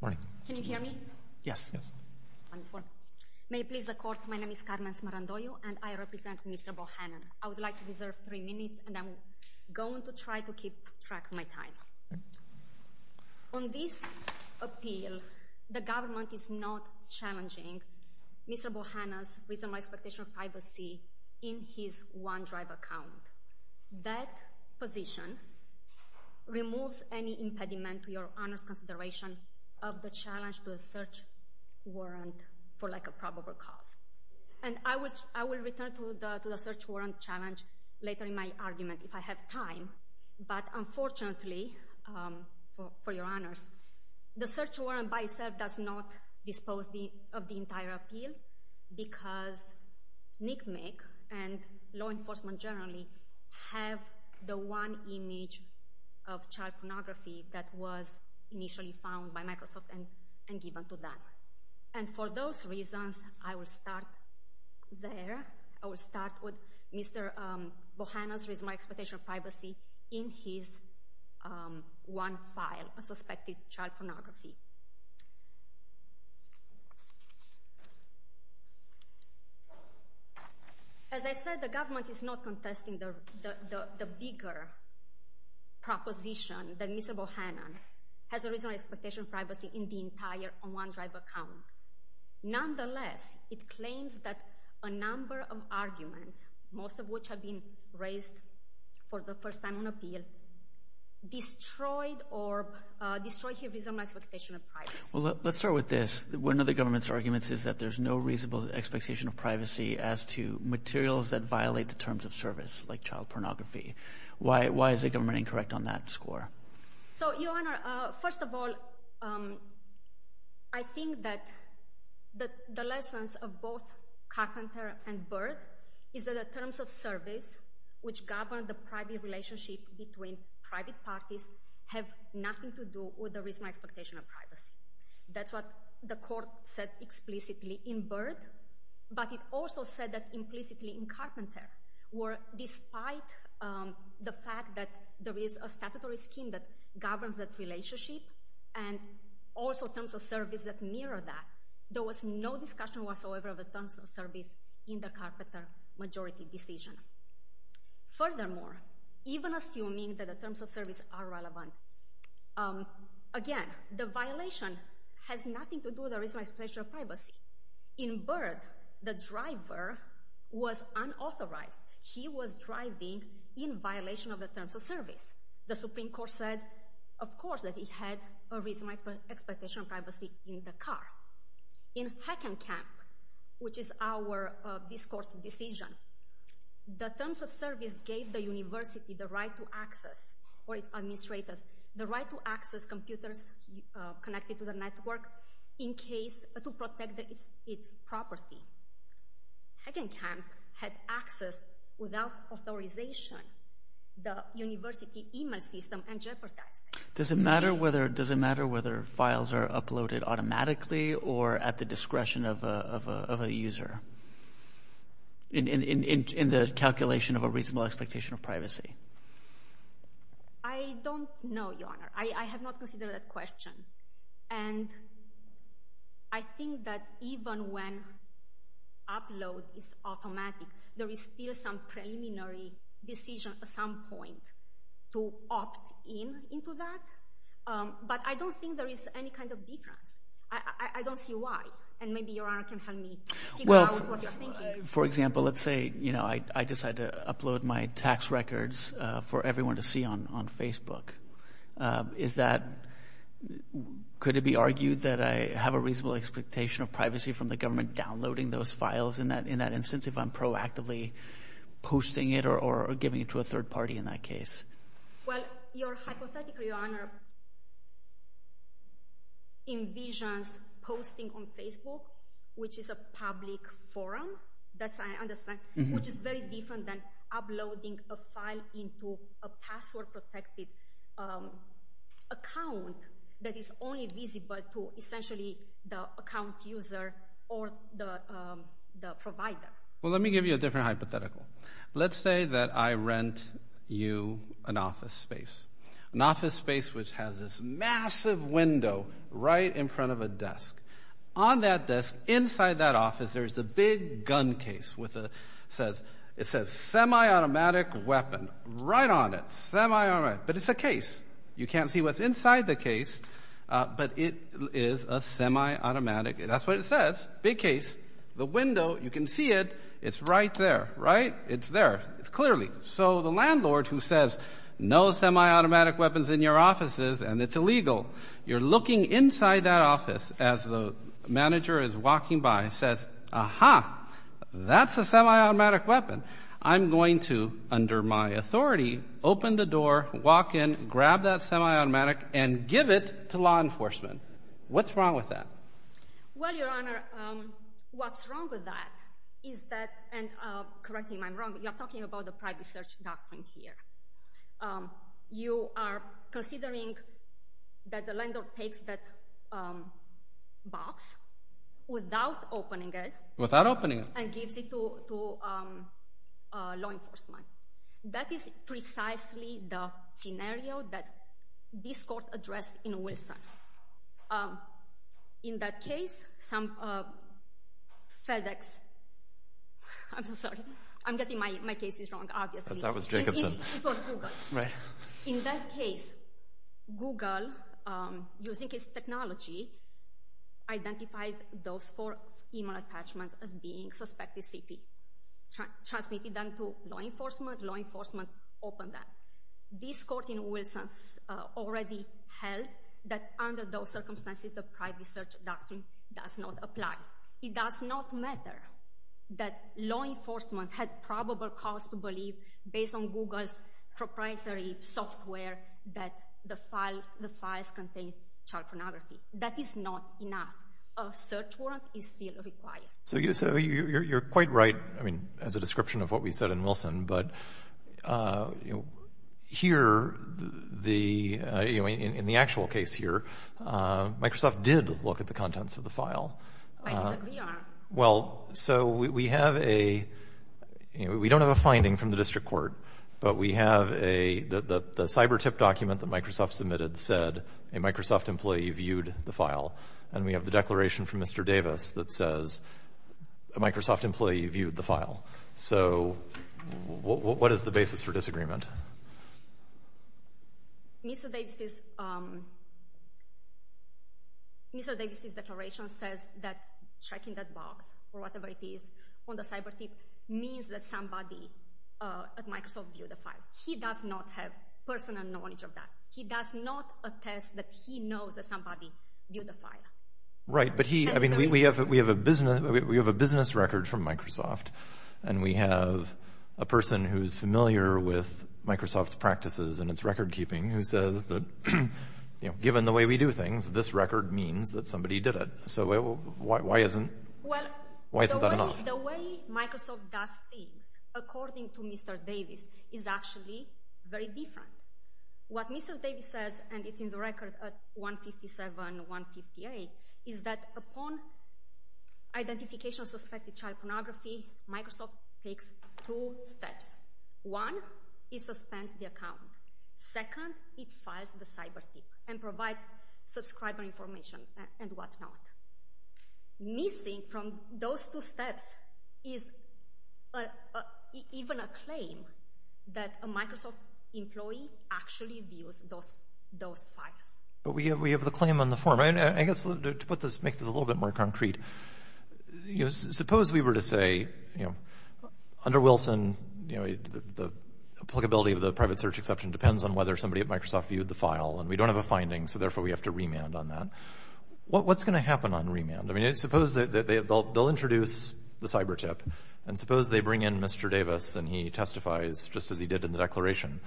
Good morning. Can you hear me? Yes. Wonderful. May it please the Court, my name is Carmen Smarandoyo and I represent Mr. Bohannon. I would like to reserve three minutes and I'm going to try to keep track of my time. On this appeal, the government is not challenging Mr. Bohannon's reasonable expectation of privacy in his OneDrive account. That position removes any impediment to your Honor's consideration of the challenge to a search warrant for like a probable cause. And I will return to the search warrant challenge later in my argument if I have time. But unfortunately, for your Honors, the search warrant by itself does not dispose of the entire appeal, because NCMEC and law enforcement generally have the one image of child pornography that was initially found by Microsoft and given to them. And for those reasons, I will start there. I will start with Mr. Bohannon's reasonable expectation of privacy in his one file of suspected child pornography. As I said, the government is not contesting the bigger proposition that Mr. Bohannon has a reasonable expectation of privacy in the entire OneDrive account. Nonetheless, it claims that a number of arguments, most of which have been raised for the first time on appeal, destroyed his reasonable expectation of privacy. Well, let's start with this. One of the government's arguments is that there's no reasonable expectation of privacy as to materials that violate the terms of service like child pornography. Why is the government incorrect on that score? So, Your Honor, first of all, I think that the lessons of both Carpenter and Byrd is that the terms of service which govern the private relationship between private parties have nothing to do with the reasonable expectation of privacy. That's what the court said explicitly in Byrd, but it also said that implicitly in Carpenter, where despite the fact that there is a statutory scheme that governs that relationship and also terms of service that mirror that, there was no discussion whatsoever of the terms of service in the Carpenter majority decision. Furthermore, even assuming that the terms of service are relevant, again, the violation has nothing to do with a reasonable expectation of privacy. In Byrd, the driver was unauthorized. He was driving in violation of the terms of service. The Supreme Court said, of course, that he had a reasonable expectation of privacy in the car. In Heckenkamp, which is our discourse decision, the terms of service gave the university the right to access, or its administrators, the right to access computers connected to the network to protect its property. Heckenkamp had access without authorization to the university email system and jeopardized it. Does it matter whether files are uploaded automatically or at the discretion of a user in the calculation of a reasonable expectation of privacy? I don't know, Your Honor. I have not considered that question. And I think that even when upload is automatic, there is still some preliminary decision at some point to opt in into that. But I don't think there is any kind of difference. I don't see why. And maybe Your Honor can help me figure out what you're thinking. For example, let's say I decide to upload my tax records for everyone to see on Facebook. Is that – could it be argued that I have a reasonable expectation of privacy from the government downloading those files in that instance if I'm proactively posting it or giving it to a third party in that case? Well, your hypothetical, Your Honor, envisions posting on Facebook, which is a public forum, which is very different than uploading a file into a password-protected account that is only visible to essentially the account user or the provider. Well, let me give you a different hypothetical. Let's say that I rent you an office space, an office space which has this massive window right in front of a desk. On that desk, inside that office, there is a big gun case with a – it says semi-automatic weapon right on it, semi-automatic. But it's a case. You can't see what's inside the case, but it is a semi-automatic. That's what it says, big case. The window, you can see it. It's right there, right? It's there. It's clearly. So the landlord who says, no semi-automatic weapons in your offices, and it's illegal, you're looking inside that office as the manager is walking by and says, aha, that's a semi-automatic weapon. I'm going to, under my authority, open the door, walk in, grab that semi-automatic, and give it to law enforcement. What's wrong with that? Well, Your Honor, what's wrong with that is that – and correct me if I'm wrong, but you're talking about the private search doctrine here. You are considering that the landlord takes that box without opening it and gives it to law enforcement. That is precisely the scenario that this court addressed in Wilson. In that case, some FedEx – I'm sorry. I'm getting my cases wrong, obviously. That was Jacobson. It was Google. Right. In that case, Google, using its technology, identified those four email attachments as being suspected CP, transmitted them to law enforcement. Law enforcement opened them. This court in Wilson already held that under those circumstances, the private search doctrine does not apply. It does not matter that law enforcement had probable cause to believe, based on Google's proprietary software, that the files contained child pornography. That is not enough. A search warrant is still required. So you're quite right, I mean, as a description of what we said in Wilson. But here, in the actual case here, Microsoft did look at the contents of the file. I disagree, Your Honor. Well, so we have a – we don't have a finding from the district court, but we have a – the cyber tip document that Microsoft submitted said a Microsoft employee viewed the file. And we have the declaration from Mr. Davis that says a Microsoft employee viewed the file. So what is the basis for disagreement? Mr. Davis's declaration says that checking that box or whatever it is on the cyber tip means that somebody at Microsoft viewed the file. He does not have personal knowledge of that. He does not attest that he knows that somebody viewed the file. Right, but he – I mean, we have a business – we have a business record from Microsoft, and we have a person who's familiar with Microsoft's practices and its record-keeping who says that, you know, given the way we do things, this record means that somebody did it. So why isn't – why isn't that enough? Well, the way Microsoft does things, according to Mr. Davis, is actually very different. What Mr. Davis says, and it's in the record at 157, 158, is that upon identification of suspected child pornography, Microsoft takes two steps. One, it suspends the account. Second, it files the cyber tip and provides subscriber information and whatnot. Missing from those two steps is even a claim that a Microsoft employee actually views those files. But we have the claim on the form. I guess to put this – make this a little bit more concrete, you know, suppose we were to say, you know, under Wilson, you know, the applicability of the private search exception depends on whether somebody at Microsoft viewed the file, and we don't have a finding, so therefore we have to remand on that. What's going to happen on remand? I mean, suppose they'll introduce the cyber tip, and suppose they bring in Mr. Davis and he testifies just as he did in the declaration.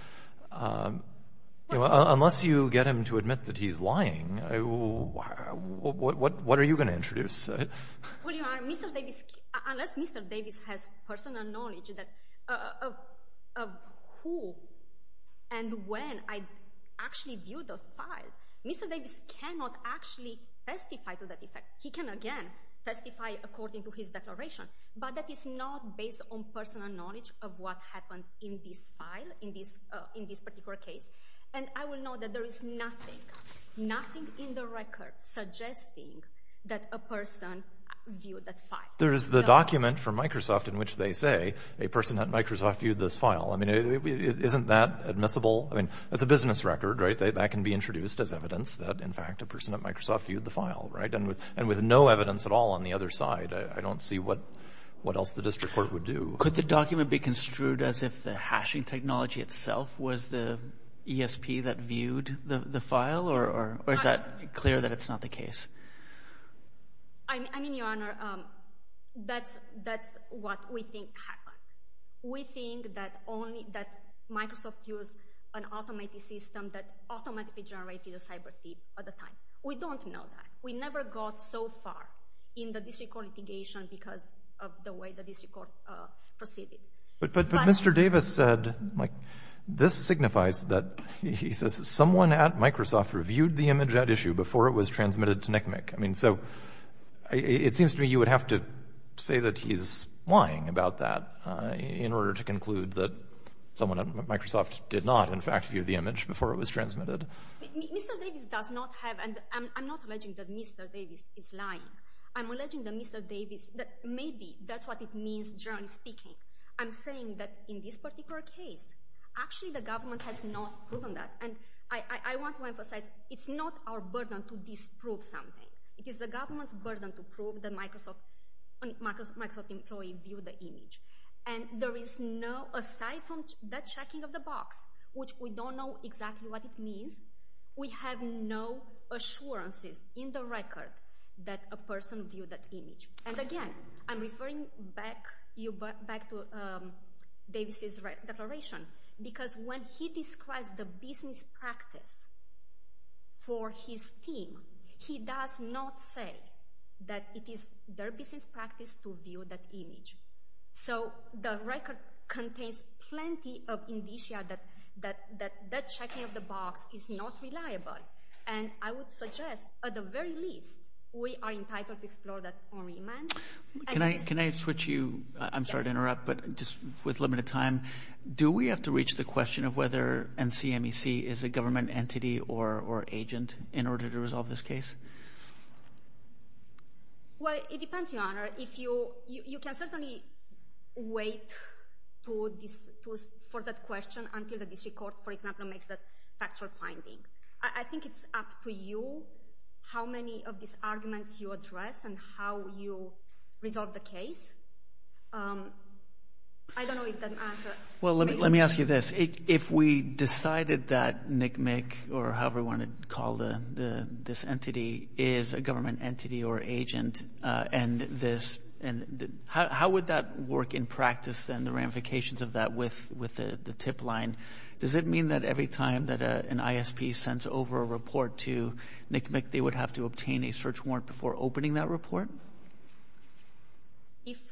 Unless you get him to admit that he's lying, what are you going to introduce? Well, you know, unless Mr. Davis has personal knowledge of who and when I actually viewed those files, Mr. Davis cannot actually testify to that effect. He can, again, testify according to his declaration, but that is not based on personal knowledge of what happened in this file, in this particular case. And I will note that there is nothing, nothing in the record suggesting that a person viewed that file. There is the document from Microsoft in which they say a person at Microsoft viewed this file. I mean, isn't that admissible? I mean, that's a business record, right? That can be introduced as evidence that, in fact, a person at Microsoft viewed the file, right? And with no evidence at all on the other side, I don't see what else the district court would do. Could the document be construed as if the hashing technology itself was the ESP that viewed the file, or is that clear that it's not the case? I mean, Your Honor, that's what we think happened. We think that Microsoft used an automated system that automatically generated a cyber thief at the time. We don't know that. We never got so far in the district court litigation because of the way the district court proceeded. But Mr. Davis said, like, this signifies that he says someone at Microsoft reviewed the image at issue before it was transmitted to NCMEC. I mean, so it seems to me you would have to say that he's lying about that in order to conclude that someone at Microsoft did not, in fact, view the image before it was transmitted. Mr. Davis does not have – and I'm not alleging that Mr. Davis is lying. I'm alleging that Mr. Davis – maybe that's what it means, generally speaking. I'm saying that in this particular case, actually the government has not proven that. And I want to emphasize it's not our burden to disprove something. It is the government's burden to prove that Microsoft employee viewed the image. And there is no – aside from that checking of the box, which we don't know exactly what it means, we have no assurances in the record that a person viewed that image. And again, I'm referring back to Davis's declaration because when he describes the business practice for his team, he does not say that it is their business practice to view that image. So the record contains plenty of indicia that that checking of the box is not reliable. And I would suggest at the very least we are entitled to explore that only. Can I switch you – I'm sorry to interrupt, but just with limited time. Do we have to reach the question of whether NCMEC is a government entity or agent in order to resolve this case? Well, it depends, Your Honor. If you – you can certainly wait for that question until the district court, for example, makes that factual finding. I think it's up to you how many of these arguments you address and how you resolve the case. I don't know if that answer makes sense. Well, let me ask you this. If we decided that NCMEC or however we want to call this entity is a government entity or agent and this – how would that work in practice and the ramifications of that with the tip line? Does it mean that every time that an ISP sends over a report to NCMEC, they would have to obtain a search warrant before opening that report? If –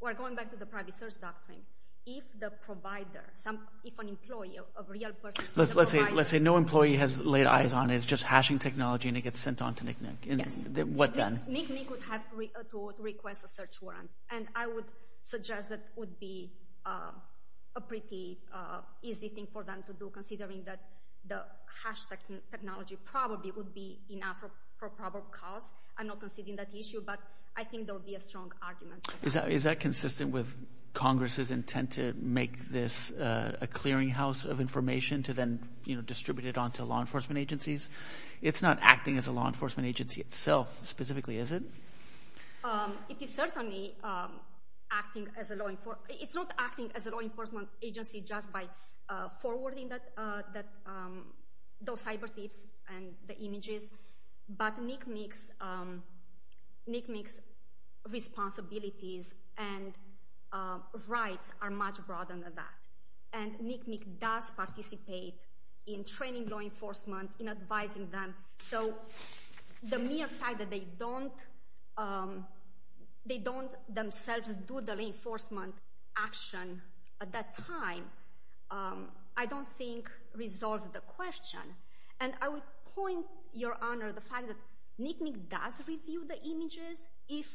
we're going back to the private search doctrine. If the provider – if an employee, a real person – Let's say no employee has laid eyes on it. It's just hashing technology and it gets sent on to NCMEC. Yes. What then? NCMEC would have to request a search warrant, and I would suggest that would be a pretty easy thing for them to do considering that the hash technology probably would be enough for probable cause. I'm not conceding that issue, but I think there would be a strong argument. Is that consistent with Congress' intent to make this a clearinghouse of information to then distribute it on to law enforcement agencies? It's not acting as a law enforcement agency itself specifically, is it? It is certainly acting as a law – it's not acting as a law enforcement agency just by forwarding those cyber tips and the images. But NCMEC's responsibilities and rights are much broader than that. And NCMEC does participate in training law enforcement, in advising them. So the mere fact that they don't themselves do the law enforcement action at that time I don't think resolves the question. And I would point, Your Honor, the fact that NCMEC does review the images. If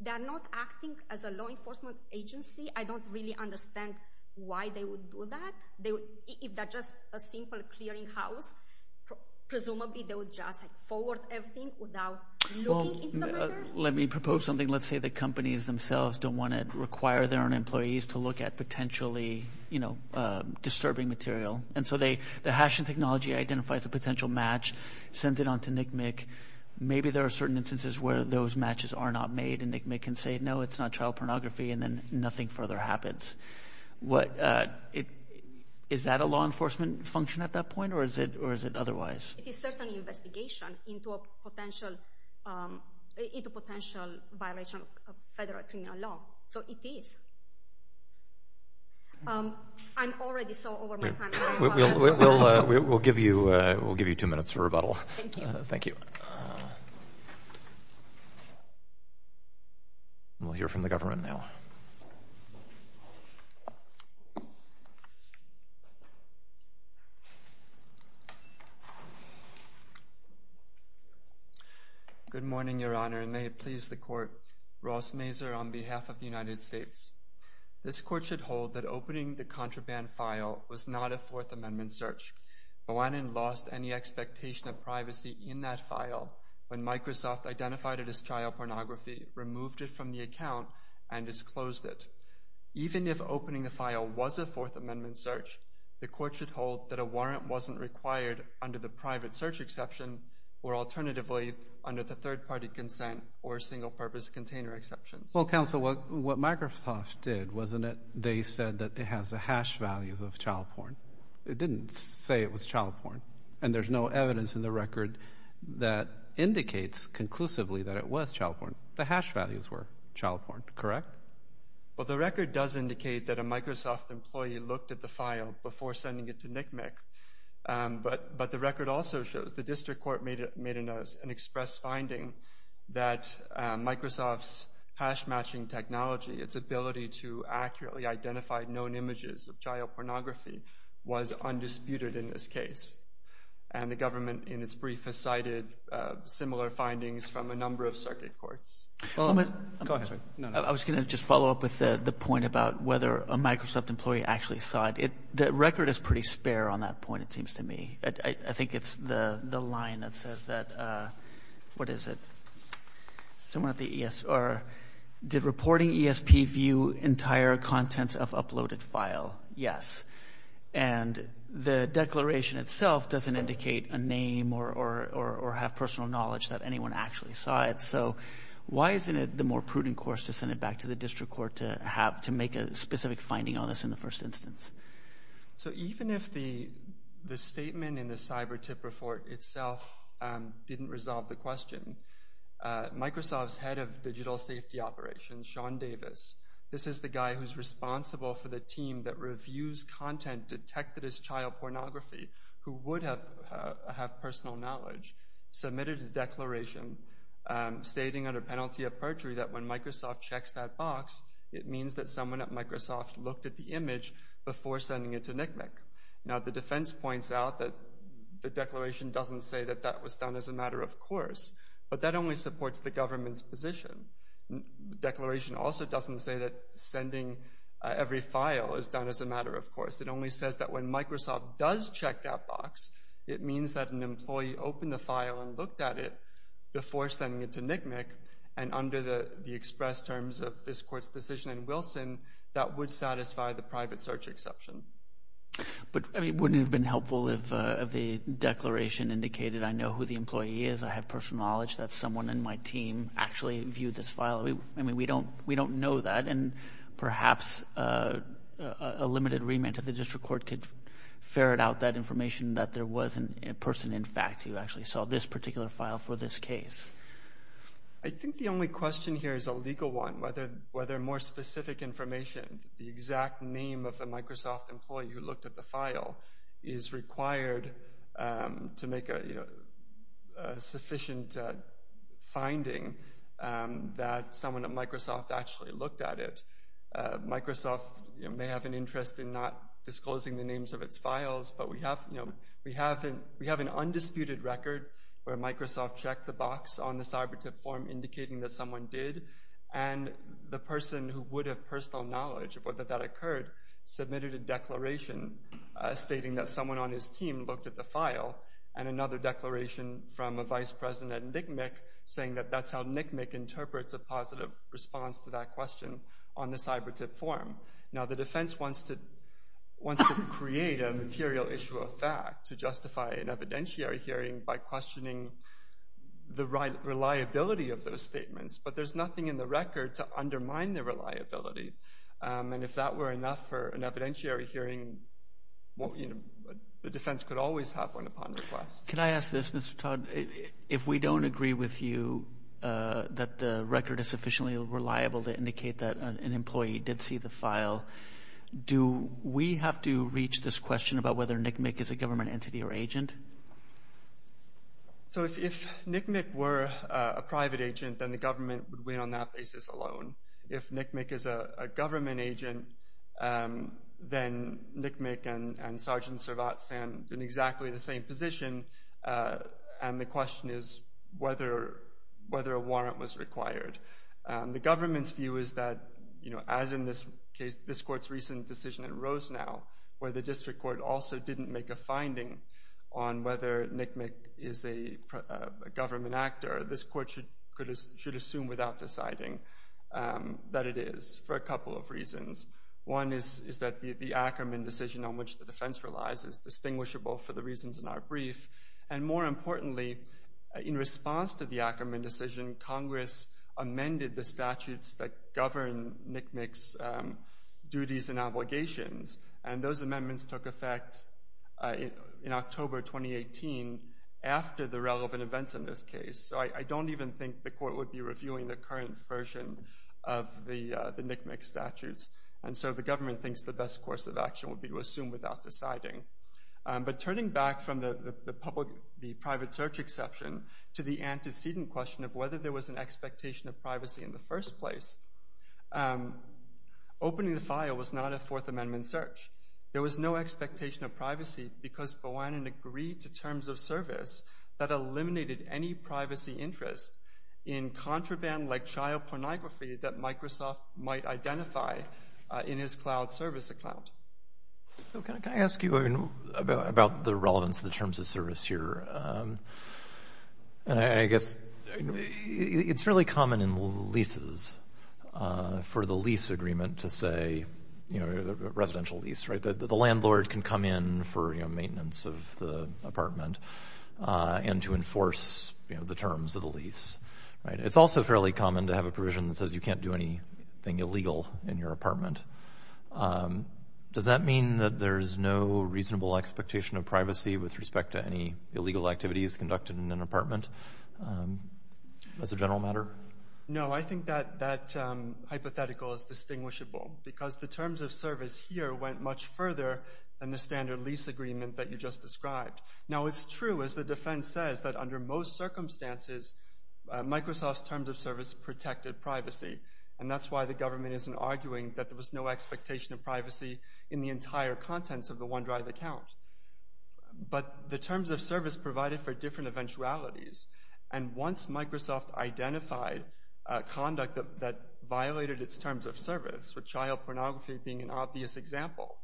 they're not acting as a law enforcement agency, I don't really understand why they would do that. If they're just a simple clearinghouse, presumably they would just forward everything without looking into the matter? Well, let me propose something. Let's say the companies themselves don't want to require their own employees to look at potentially disturbing material. And so the hashing technology identifies a potential match, sends it on to NCMEC. Maybe there are certain instances where those matches are not made and NCMEC can say, no, it's not child pornography. And then nothing further happens. Is that a law enforcement function at that point or is it otherwise? It is certainly an investigation into a potential violation of federal criminal law. So it is. I'm already so over my time. We'll give you two minutes for rebuttal. Thank you. Thank you. We'll hear from the government now. Good morning, Your Honor, and may it please the court. Ross Mazur on behalf of the United States. This court should hold that opening the contraband file was not a Fourth Amendment search. Moanen lost any expectation of privacy in that file when Microsoft identified it as child pornography, removed it from the account, and disclosed it. Even if opening the file was a Fourth Amendment search, the court should hold that a warrant wasn't required under the private search exception or alternatively under the third-party consent or single-purpose container exceptions. Well, counsel, what Microsoft did, wasn't it they said that it has the hash values of child porn? It didn't say it was child porn, and there's no evidence in the record that indicates conclusively that it was child porn. The hash values were child porn, correct? Well, the record does indicate that a Microsoft employee looked at the file before sending it to NCMEC, but the record also shows the district court made an express finding that Microsoft's hash-matching technology, its ability to accurately identify known images of child pornography, was undisputed in this case, and the government in its brief has cited similar findings from a number of circuit courts. I was going to just follow up with the point about whether a Microsoft employee actually saw it. The record is pretty spare on that point, it seems to me. I think it's the line that says that, what is it? Someone at the ESR, did reporting ESP view entire contents of uploaded file? Yes. And the declaration itself doesn't indicate a name or have personal knowledge that anyone actually saw it. So why isn't it the more prudent course to send it back to the district court to make a specific finding on this in the first instance? So even if the statement in the cyber tip report itself didn't resolve the question, Microsoft's head of digital safety operations, Sean Davis, this is the guy who's responsible for the team that reviews content detected as child pornography, who would have personal knowledge, submitted a declaration stating under penalty of perjury that when Microsoft checks that box, it means that someone at Microsoft looked at the image before sending it to NCMEC. Now the defense points out that the declaration doesn't say that that was done as a matter of course, but that only supports the government's position. The declaration also doesn't say that sending every file is done as a matter of course. It only says that when Microsoft does check that box, it means that an employee opened the file and looked at it before sending it to NCMEC, and under the express terms of this court's decision in Wilson, that would satisfy the private search exception. But wouldn't it have been helpful if the declaration indicated I know who the employee is, I have personal knowledge that someone in my team actually viewed this file? I mean, we don't know that, and perhaps a limited remand to the district court could ferret out that information that there was a person in fact who actually saw this particular file for this case. I think the only question here is a legal one, whether more specific information, the exact name of the Microsoft employee who looked at the file, is required to make a sufficient finding that someone at Microsoft actually looked at it. Microsoft may have an interest in not disclosing the names of its files, but we have an undisputed record where Microsoft checked the box on the cyber tip form indicating that someone did, and the person who would have personal knowledge of whether that occurred submitted a declaration stating that someone on his team looked at the file, and another declaration from a vice president at NCMEC saying that that's how NCMEC interprets a positive response to that question on the cyber tip form. Now the defense wants to create a material issue of fact to justify an evidentiary hearing by questioning the reliability of those statements, but there's nothing in the record to undermine the reliability. And if that were enough for an evidentiary hearing, the defense could always have one upon request. Can I ask this, Mr. Todd? If we don't agree with you that the record is sufficiently reliable to indicate that an employee did see the file, do we have to reach this question about whether NCMEC is a government entity or agent? So if NCMEC were a private agent, then the government would win on that basis alone. If NCMEC is a government agent, then NCMEC and Sgt. Servat stand in exactly the same position, and the question is whether a warrant was required. The government's view is that, as in this case, this court's recent decision in Rosenau, where the district court also didn't make a finding on whether NCMEC is a government actor, this court should assume without deciding that it is for a couple of reasons. One is that the Ackerman decision on which the defense relies is distinguishable for the reasons in our brief, and more importantly, in response to the Ackerman decision, Congress amended the statutes that govern NCMEC's duties and obligations, and those amendments took effect in October 2018 after the relevant events in this case. So I don't even think the court would be reviewing the current version of the NCMEC statutes, and so the government thinks the best course of action would be to assume without deciding. But turning back from the private search exception to the antecedent question of whether there was an expectation of privacy in the first place, opening the file was not a Fourth Amendment search. There was no expectation of privacy because Bowanen agreed to terms of service that eliminated any privacy interest in contraband like child pornography that Microsoft might identify in his cloud service account. Can I ask you about the relevance of the terms of service here? I guess it's fairly common in leases for the lease agreement to say, you know, residential lease, right, that the landlord can come in for, you know, maintenance of the apartment and to enforce, you know, the terms of the lease, right? It's also fairly common to have a provision that says you can't do anything illegal in your apartment. Does that mean that there's no reasonable expectation of privacy with respect to any illegal activities conducted in an apartment as a general matter? No, I think that hypothetical is distinguishable because the terms of service here went much further than the standard lease agreement that you just described. Now, it's true, as the defense says, that under most circumstances, Microsoft's terms of service protected privacy, and that's why the government isn't arguing that there was no expectation of privacy in the entire contents of the OneDrive account. But the terms of service provided for different eventualities, and once Microsoft identified conduct that violated its terms of service, with child pornography being an obvious example,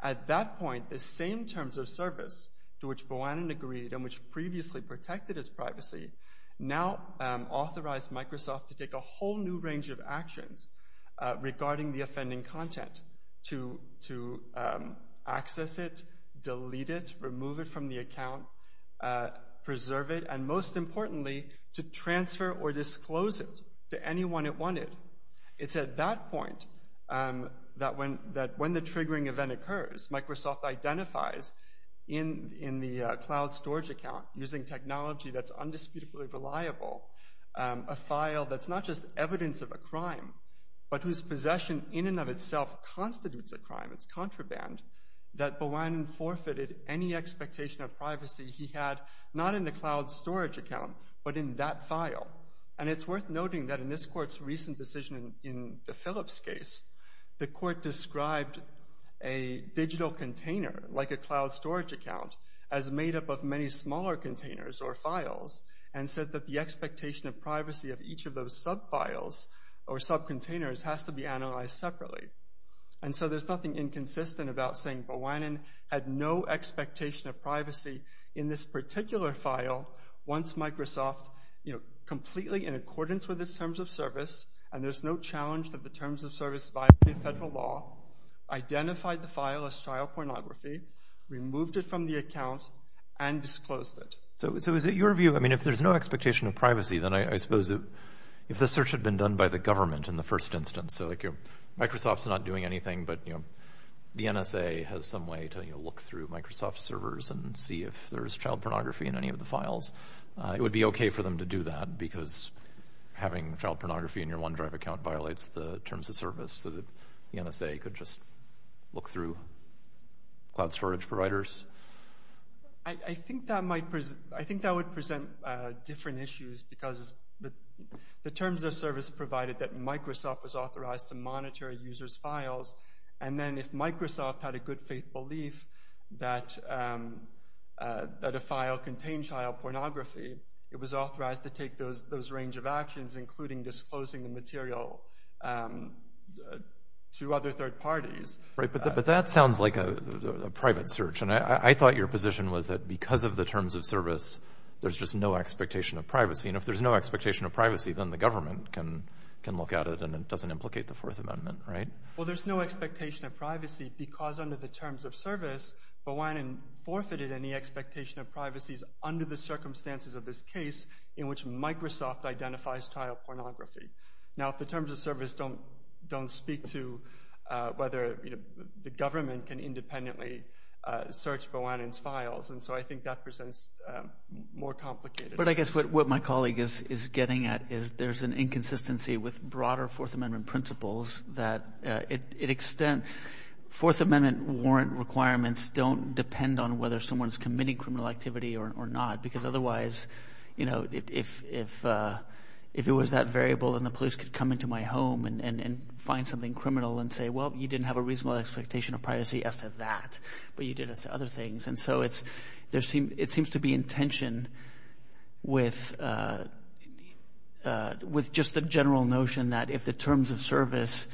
at that point, the same terms of service to which Boanen agreed and which previously protected his privacy now authorize Microsoft to take a whole new range of actions regarding the offending content, to access it, delete it, remove it from the account, preserve it, and most importantly, to transfer or disclose it to anyone it wanted. It's at that point that when the triggering event occurs, Microsoft identifies in the cloud storage account using technology that's undisputably reliable, a file that's not just evidence of a crime, but whose possession in and of itself constitutes a crime, it's contraband, that Boanen forfeited any expectation of privacy he had, not in the cloud storage account, but in that file. And it's worth noting that in this court's recent decision in the Phillips case, the court described a digital container like a cloud storage account as made up of many smaller containers or files and said that the expectation of privacy of each of those subfiles or subcontainers has to be analyzed separately. And so there's nothing inconsistent about saying Boanen had no expectation of privacy in this particular file once Microsoft, completely in accordance with its terms of service, and there's no challenge that the terms of service violated federal law, identified the file as child pornography, removed it from the account, and disclosed it. So is it your view, I mean, if there's no expectation of privacy, then I suppose if the search had been done by the government in the first instance, so like Microsoft's not doing anything, but the NSA has some way to look through Microsoft's servers and see if there's child pornography in any of the files, it would be okay for them to do that violates the terms of service, so that the NSA could just look through cloud storage providers? I think that would present different issues because the terms of service provided that Microsoft was authorized to monitor a user's files, and then if Microsoft had a good faith belief that a file contained child pornography, it was authorized to take those range of actions, including disclosing the material to other third parties. Right, but that sounds like a private search, and I thought your position was that because of the terms of service, there's just no expectation of privacy, and if there's no expectation of privacy, then the government can look at it and it doesn't implicate the Fourth Amendment, right? Well, there's no expectation of privacy because under the terms of service, Bawanian forfeited any expectation of privacy under the circumstances of this case in which Microsoft identifies child pornography. Now, if the terms of service don't speak to whether the government can independently search Bawanian's files, and so I think that presents more complicated issues. But I guess what my colleague is getting at is there's an inconsistency with broader Fourth Amendment principles that to an extent Fourth Amendment warrant requirements don't depend on whether someone's committing criminal activity or not because otherwise, you know, if it was that variable and the police could come into my home and find something criminal and say, well, you didn't have a reasonable expectation of privacy as to that, but you did as to other things. And so it seems to be in tension with just the general notion that if the terms of service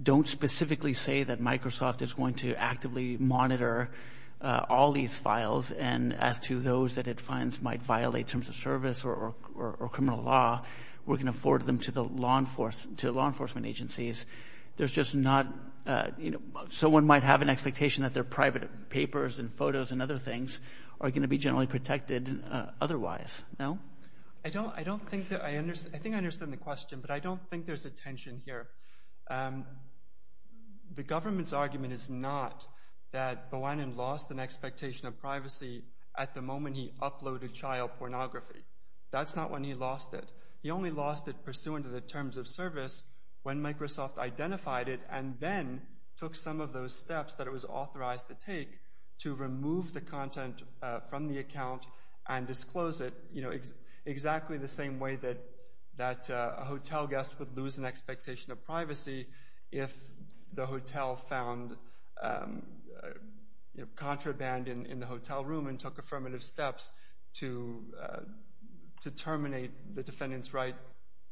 don't specifically say that Microsoft is going to actively monitor all these files and as to those that it finds might violate terms of service or criminal law, we're going to forward them to law enforcement agencies. There's just not... Someone might have an expectation that their private papers and photos and other things are going to be generally protected otherwise, no? I think I understand the question, but I don't think there's a tension here. The government's argument is not that Bawanian lost an expectation of privacy at the moment he uploaded child pornography. That's not when he lost it. He only lost it pursuant to the terms of service when Microsoft identified it and then took some of those steps that it was authorized to take to remove the content from the account and disclose it, you know, exactly the same way that a hotel guest would lose an expectation of privacy if the hotel found contraband in the hotel room and took affirmative steps to terminate the defendant's right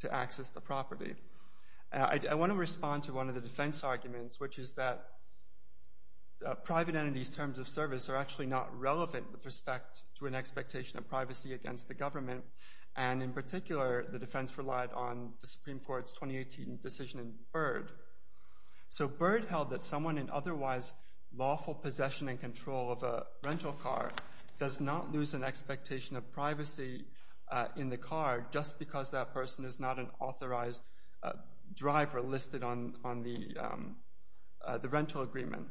to access the property. I want to respond to one of the defense arguments, which is that private entities' terms of service are actually not relevant with respect to an expectation of privacy against the government, and in particular, the defense relied on the Supreme Court's 2018 decision in Byrd. So Byrd held that someone in otherwise lawful possession and control of a rental car does not lose an expectation of privacy in the car just because that person is not an authorized driver listed on the rental agreement.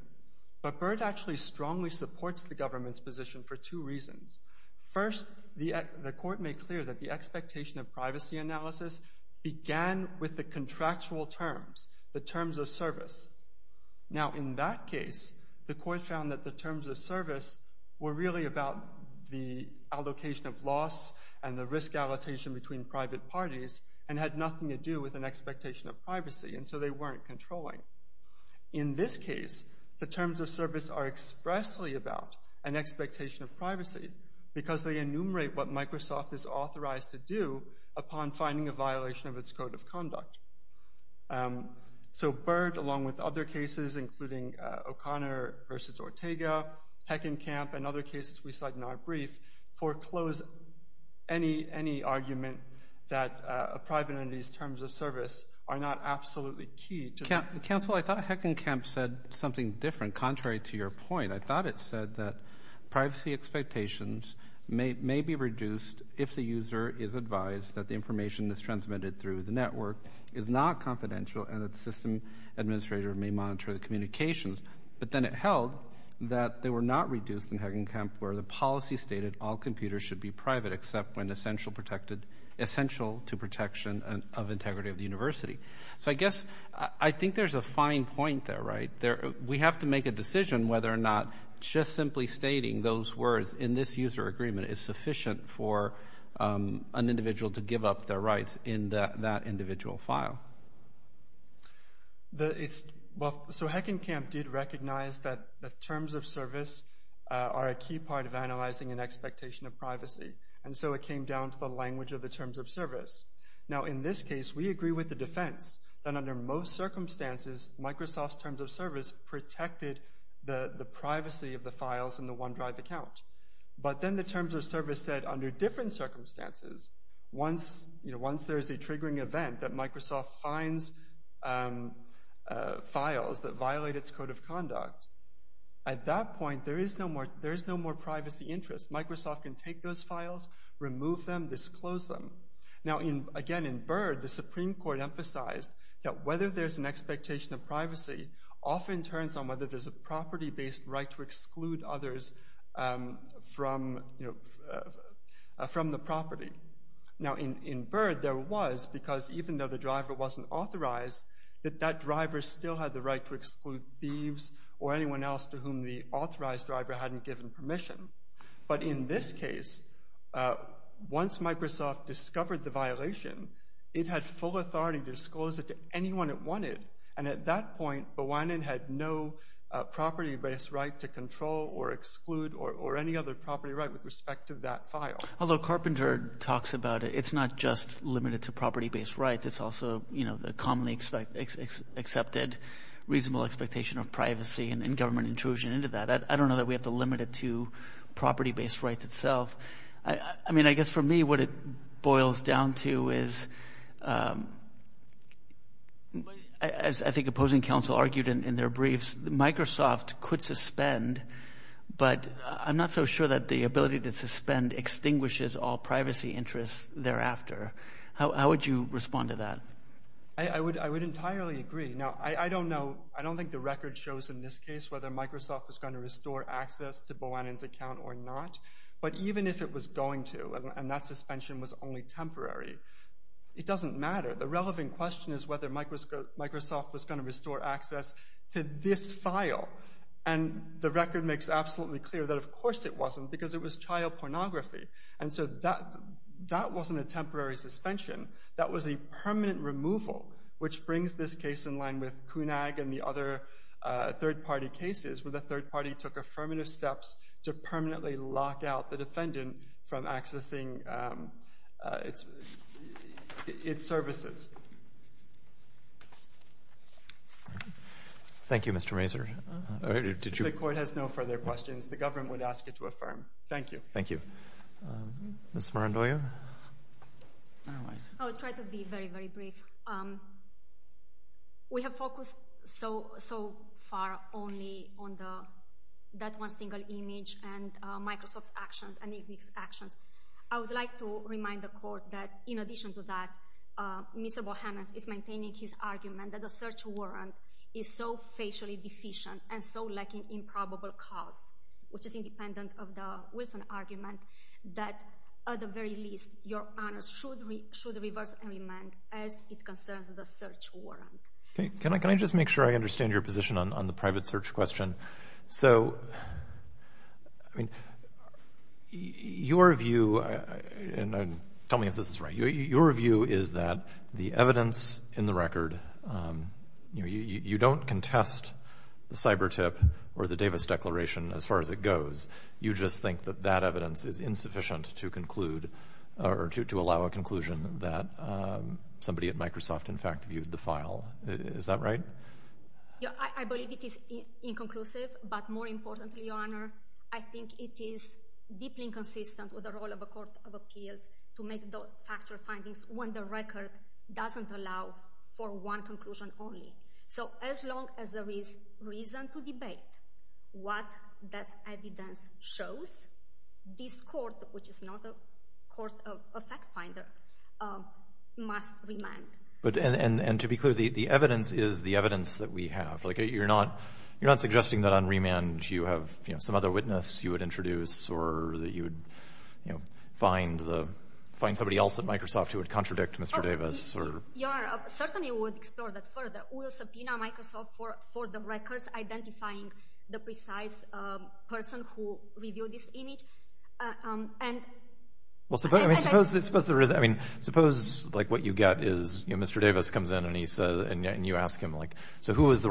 But Byrd actually strongly supports the government's position for two reasons. First, the court made clear that the expectation of privacy analysis began with the contractual terms, the terms of service. Now, in that case, the court found that the terms of service were really about the allocation of loss and the risk allocation between private parties and had nothing to do with an expectation of privacy, and so they weren't controlling. In this case, the terms of service are expressly about an expectation of privacy because they enumerate what Microsoft is authorized to do upon finding a violation of its code of conduct. So Byrd, along with other cases, including O'Connor v. Ortega, Heckenkamp, and other cases we cite in our brief, foreclose any argument that a private entity's terms of service are not absolutely key to... Council, I thought Heckenkamp said something different, contrary to your point. I thought it said that privacy expectations may be reduced if the user is advised that the information that's transmitted through the network is not confidential and that the system administrator may monitor the communications. But then it held that they were not reduced in Heckenkamp where the policy stated all computers should be private except when essential to protection of integrity of the university. So I guess I think there's a fine point there, right? We have to make a decision whether or not just simply stating those words in this user agreement is sufficient for an individual to give up their rights in that individual file. Well, so Heckenkamp did recognize that the terms of service are a key part of analyzing an expectation of privacy, and so it came down to the language of the terms of service. Now, in this case, we agree with the defense that under most circumstances, Microsoft's terms of service protected the privacy of the files in the OneDrive account. But then the terms of service said, under different circumstances, once there is a triggering event that Microsoft finds files that violate its code of conduct, at that point, there is no more privacy interest. Microsoft can take those files, remove them, disclose them. Now, again, in Byrd, the Supreme Court emphasized that whether there's an expectation of privacy often turns on whether there's a property-based right to exclude others from the property. Now, in Byrd, there was, because even though the driver wasn't authorized, that that driver still had the right to exclude thieves or anyone else to whom the authorized driver hadn't given permission. But in this case, once Microsoft discovered the violation, it had full authority to disclose it to anyone it wanted. And at that point, Bwanin had no property-based right to control or exclude or any other property right with respect to that file. Although Carpenter talks about it, it's not just limited to property-based rights. It's also, you know, the commonly accepted reasonable expectation of privacy and government intrusion into that. I don't know that we have to limit it to property-based rights itself. I mean, I guess for me, what it boils down to is, as I think opposing counsel argued in their briefs, Microsoft could suspend, but I'm not so sure that the ability to suspend extinguishes all privacy interests thereafter. How would you respond to that? I would entirely agree. Now, I don't know, I don't think the record shows in this case whether Microsoft was going to restore access to Bwanin's account or not. But even if it was going to, and that suspension was only temporary, it doesn't matter. The relevant question is whether Microsoft was going to restore access to this file. And the record makes absolutely clear that of course it wasn't, because it was child pornography. And so that wasn't a temporary suspension. That was a permanent removal, which brings this case in line with CUNAG and the other third-party cases where the third party took affirmative steps to permanently lock out the defendant from accessing its services. Thank you, Mr. Mazur. If the court has no further questions, the government would ask you to affirm. Thank you. Thank you. Ms. Morandoglia? I'll try to be very, very brief. We have focused so far only on that one single image and Microsoft's actions. I would like to remind the court that, in addition to that, Mr. Bohemus is maintaining his argument that the search warrant is so facially deficient and so lacking in probable cause, which is independent of the Wilson argument, that at the very least, your honors should reverse and amend as it concerns the search warrant. Can I just make sure I understand your position on the private search question? So, I mean, your view, and tell me if this is right, your view is that the evidence in the record, you don't contest the CyberTIP or the Davis Declaration as far as it goes. You just think that that evidence is insufficient to conclude or to allow a conclusion that somebody at Microsoft, in fact, viewed the file. Is that right? Yeah, I believe it is inconclusive, but more importantly, your honor, I think it is deeply inconsistent with the role of a court of appeals to make those factual findings when the record doesn't allow for one conclusion only. So as long as there is reason to debate what that evidence shows, this court, which is not a court of fact finder, must remain. And to be clear, the evidence is the evidence that we have. You're not suggesting that on remand you have some other witness you would introduce or that you would find somebody else at Microsoft who would contradict Mr. Davis? Your honor, certainly we would explore that further. We'll subpoena Microsoft for the records identifying the precise person who reviewed this image. Well, suppose what you get is Mr. Davis comes in and you ask him, so who is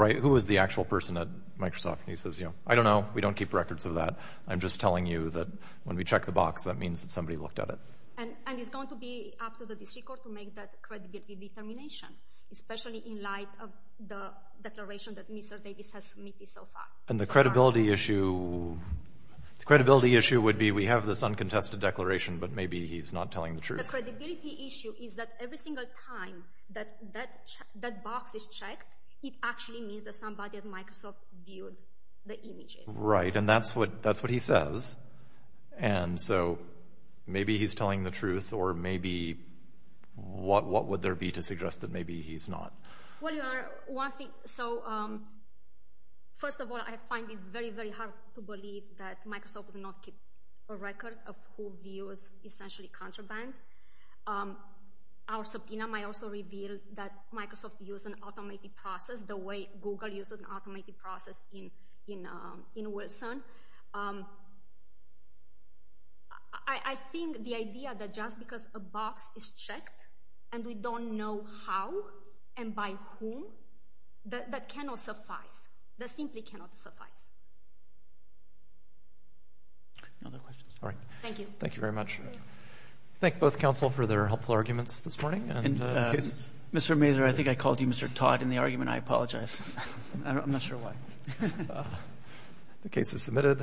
the actual person at Microsoft? And he says, I don't know. We don't keep records of that. I'm just telling you that when we check the box, that means that somebody looked at it. And it's going to be up to the district court to make that credibility determination, especially in light of the declaration that Mr. Davis has submitted so far. And the credibility issue The credibility issue would be we have this uncontested declaration, but maybe he's not telling the truth. The credibility issue is that every single time that that box is checked, it actually means that somebody at Microsoft viewed the images. Right, and that's what he says. And so maybe he's telling the truth or maybe, what would there be to suggest that maybe he's not? Well, your honor, one thing, so first of all, I find it very, very hard to believe that Microsoft would not keep a record of who views essentially contraband. Our subpoena might also reveal that Microsoft used an automated process the way Google uses an automated process in Wilson. I think the idea that just because a box is checked and we don't know how and by whom, that cannot suffice. That simply cannot suffice. Any other questions? All right. Thank you. Thank you very much. Thank both counsel for their helpful arguments this morning. Mr. Mazur, I think I called you Mr. Todd in the argument. I apologize. I'm not sure why. The case is submitted.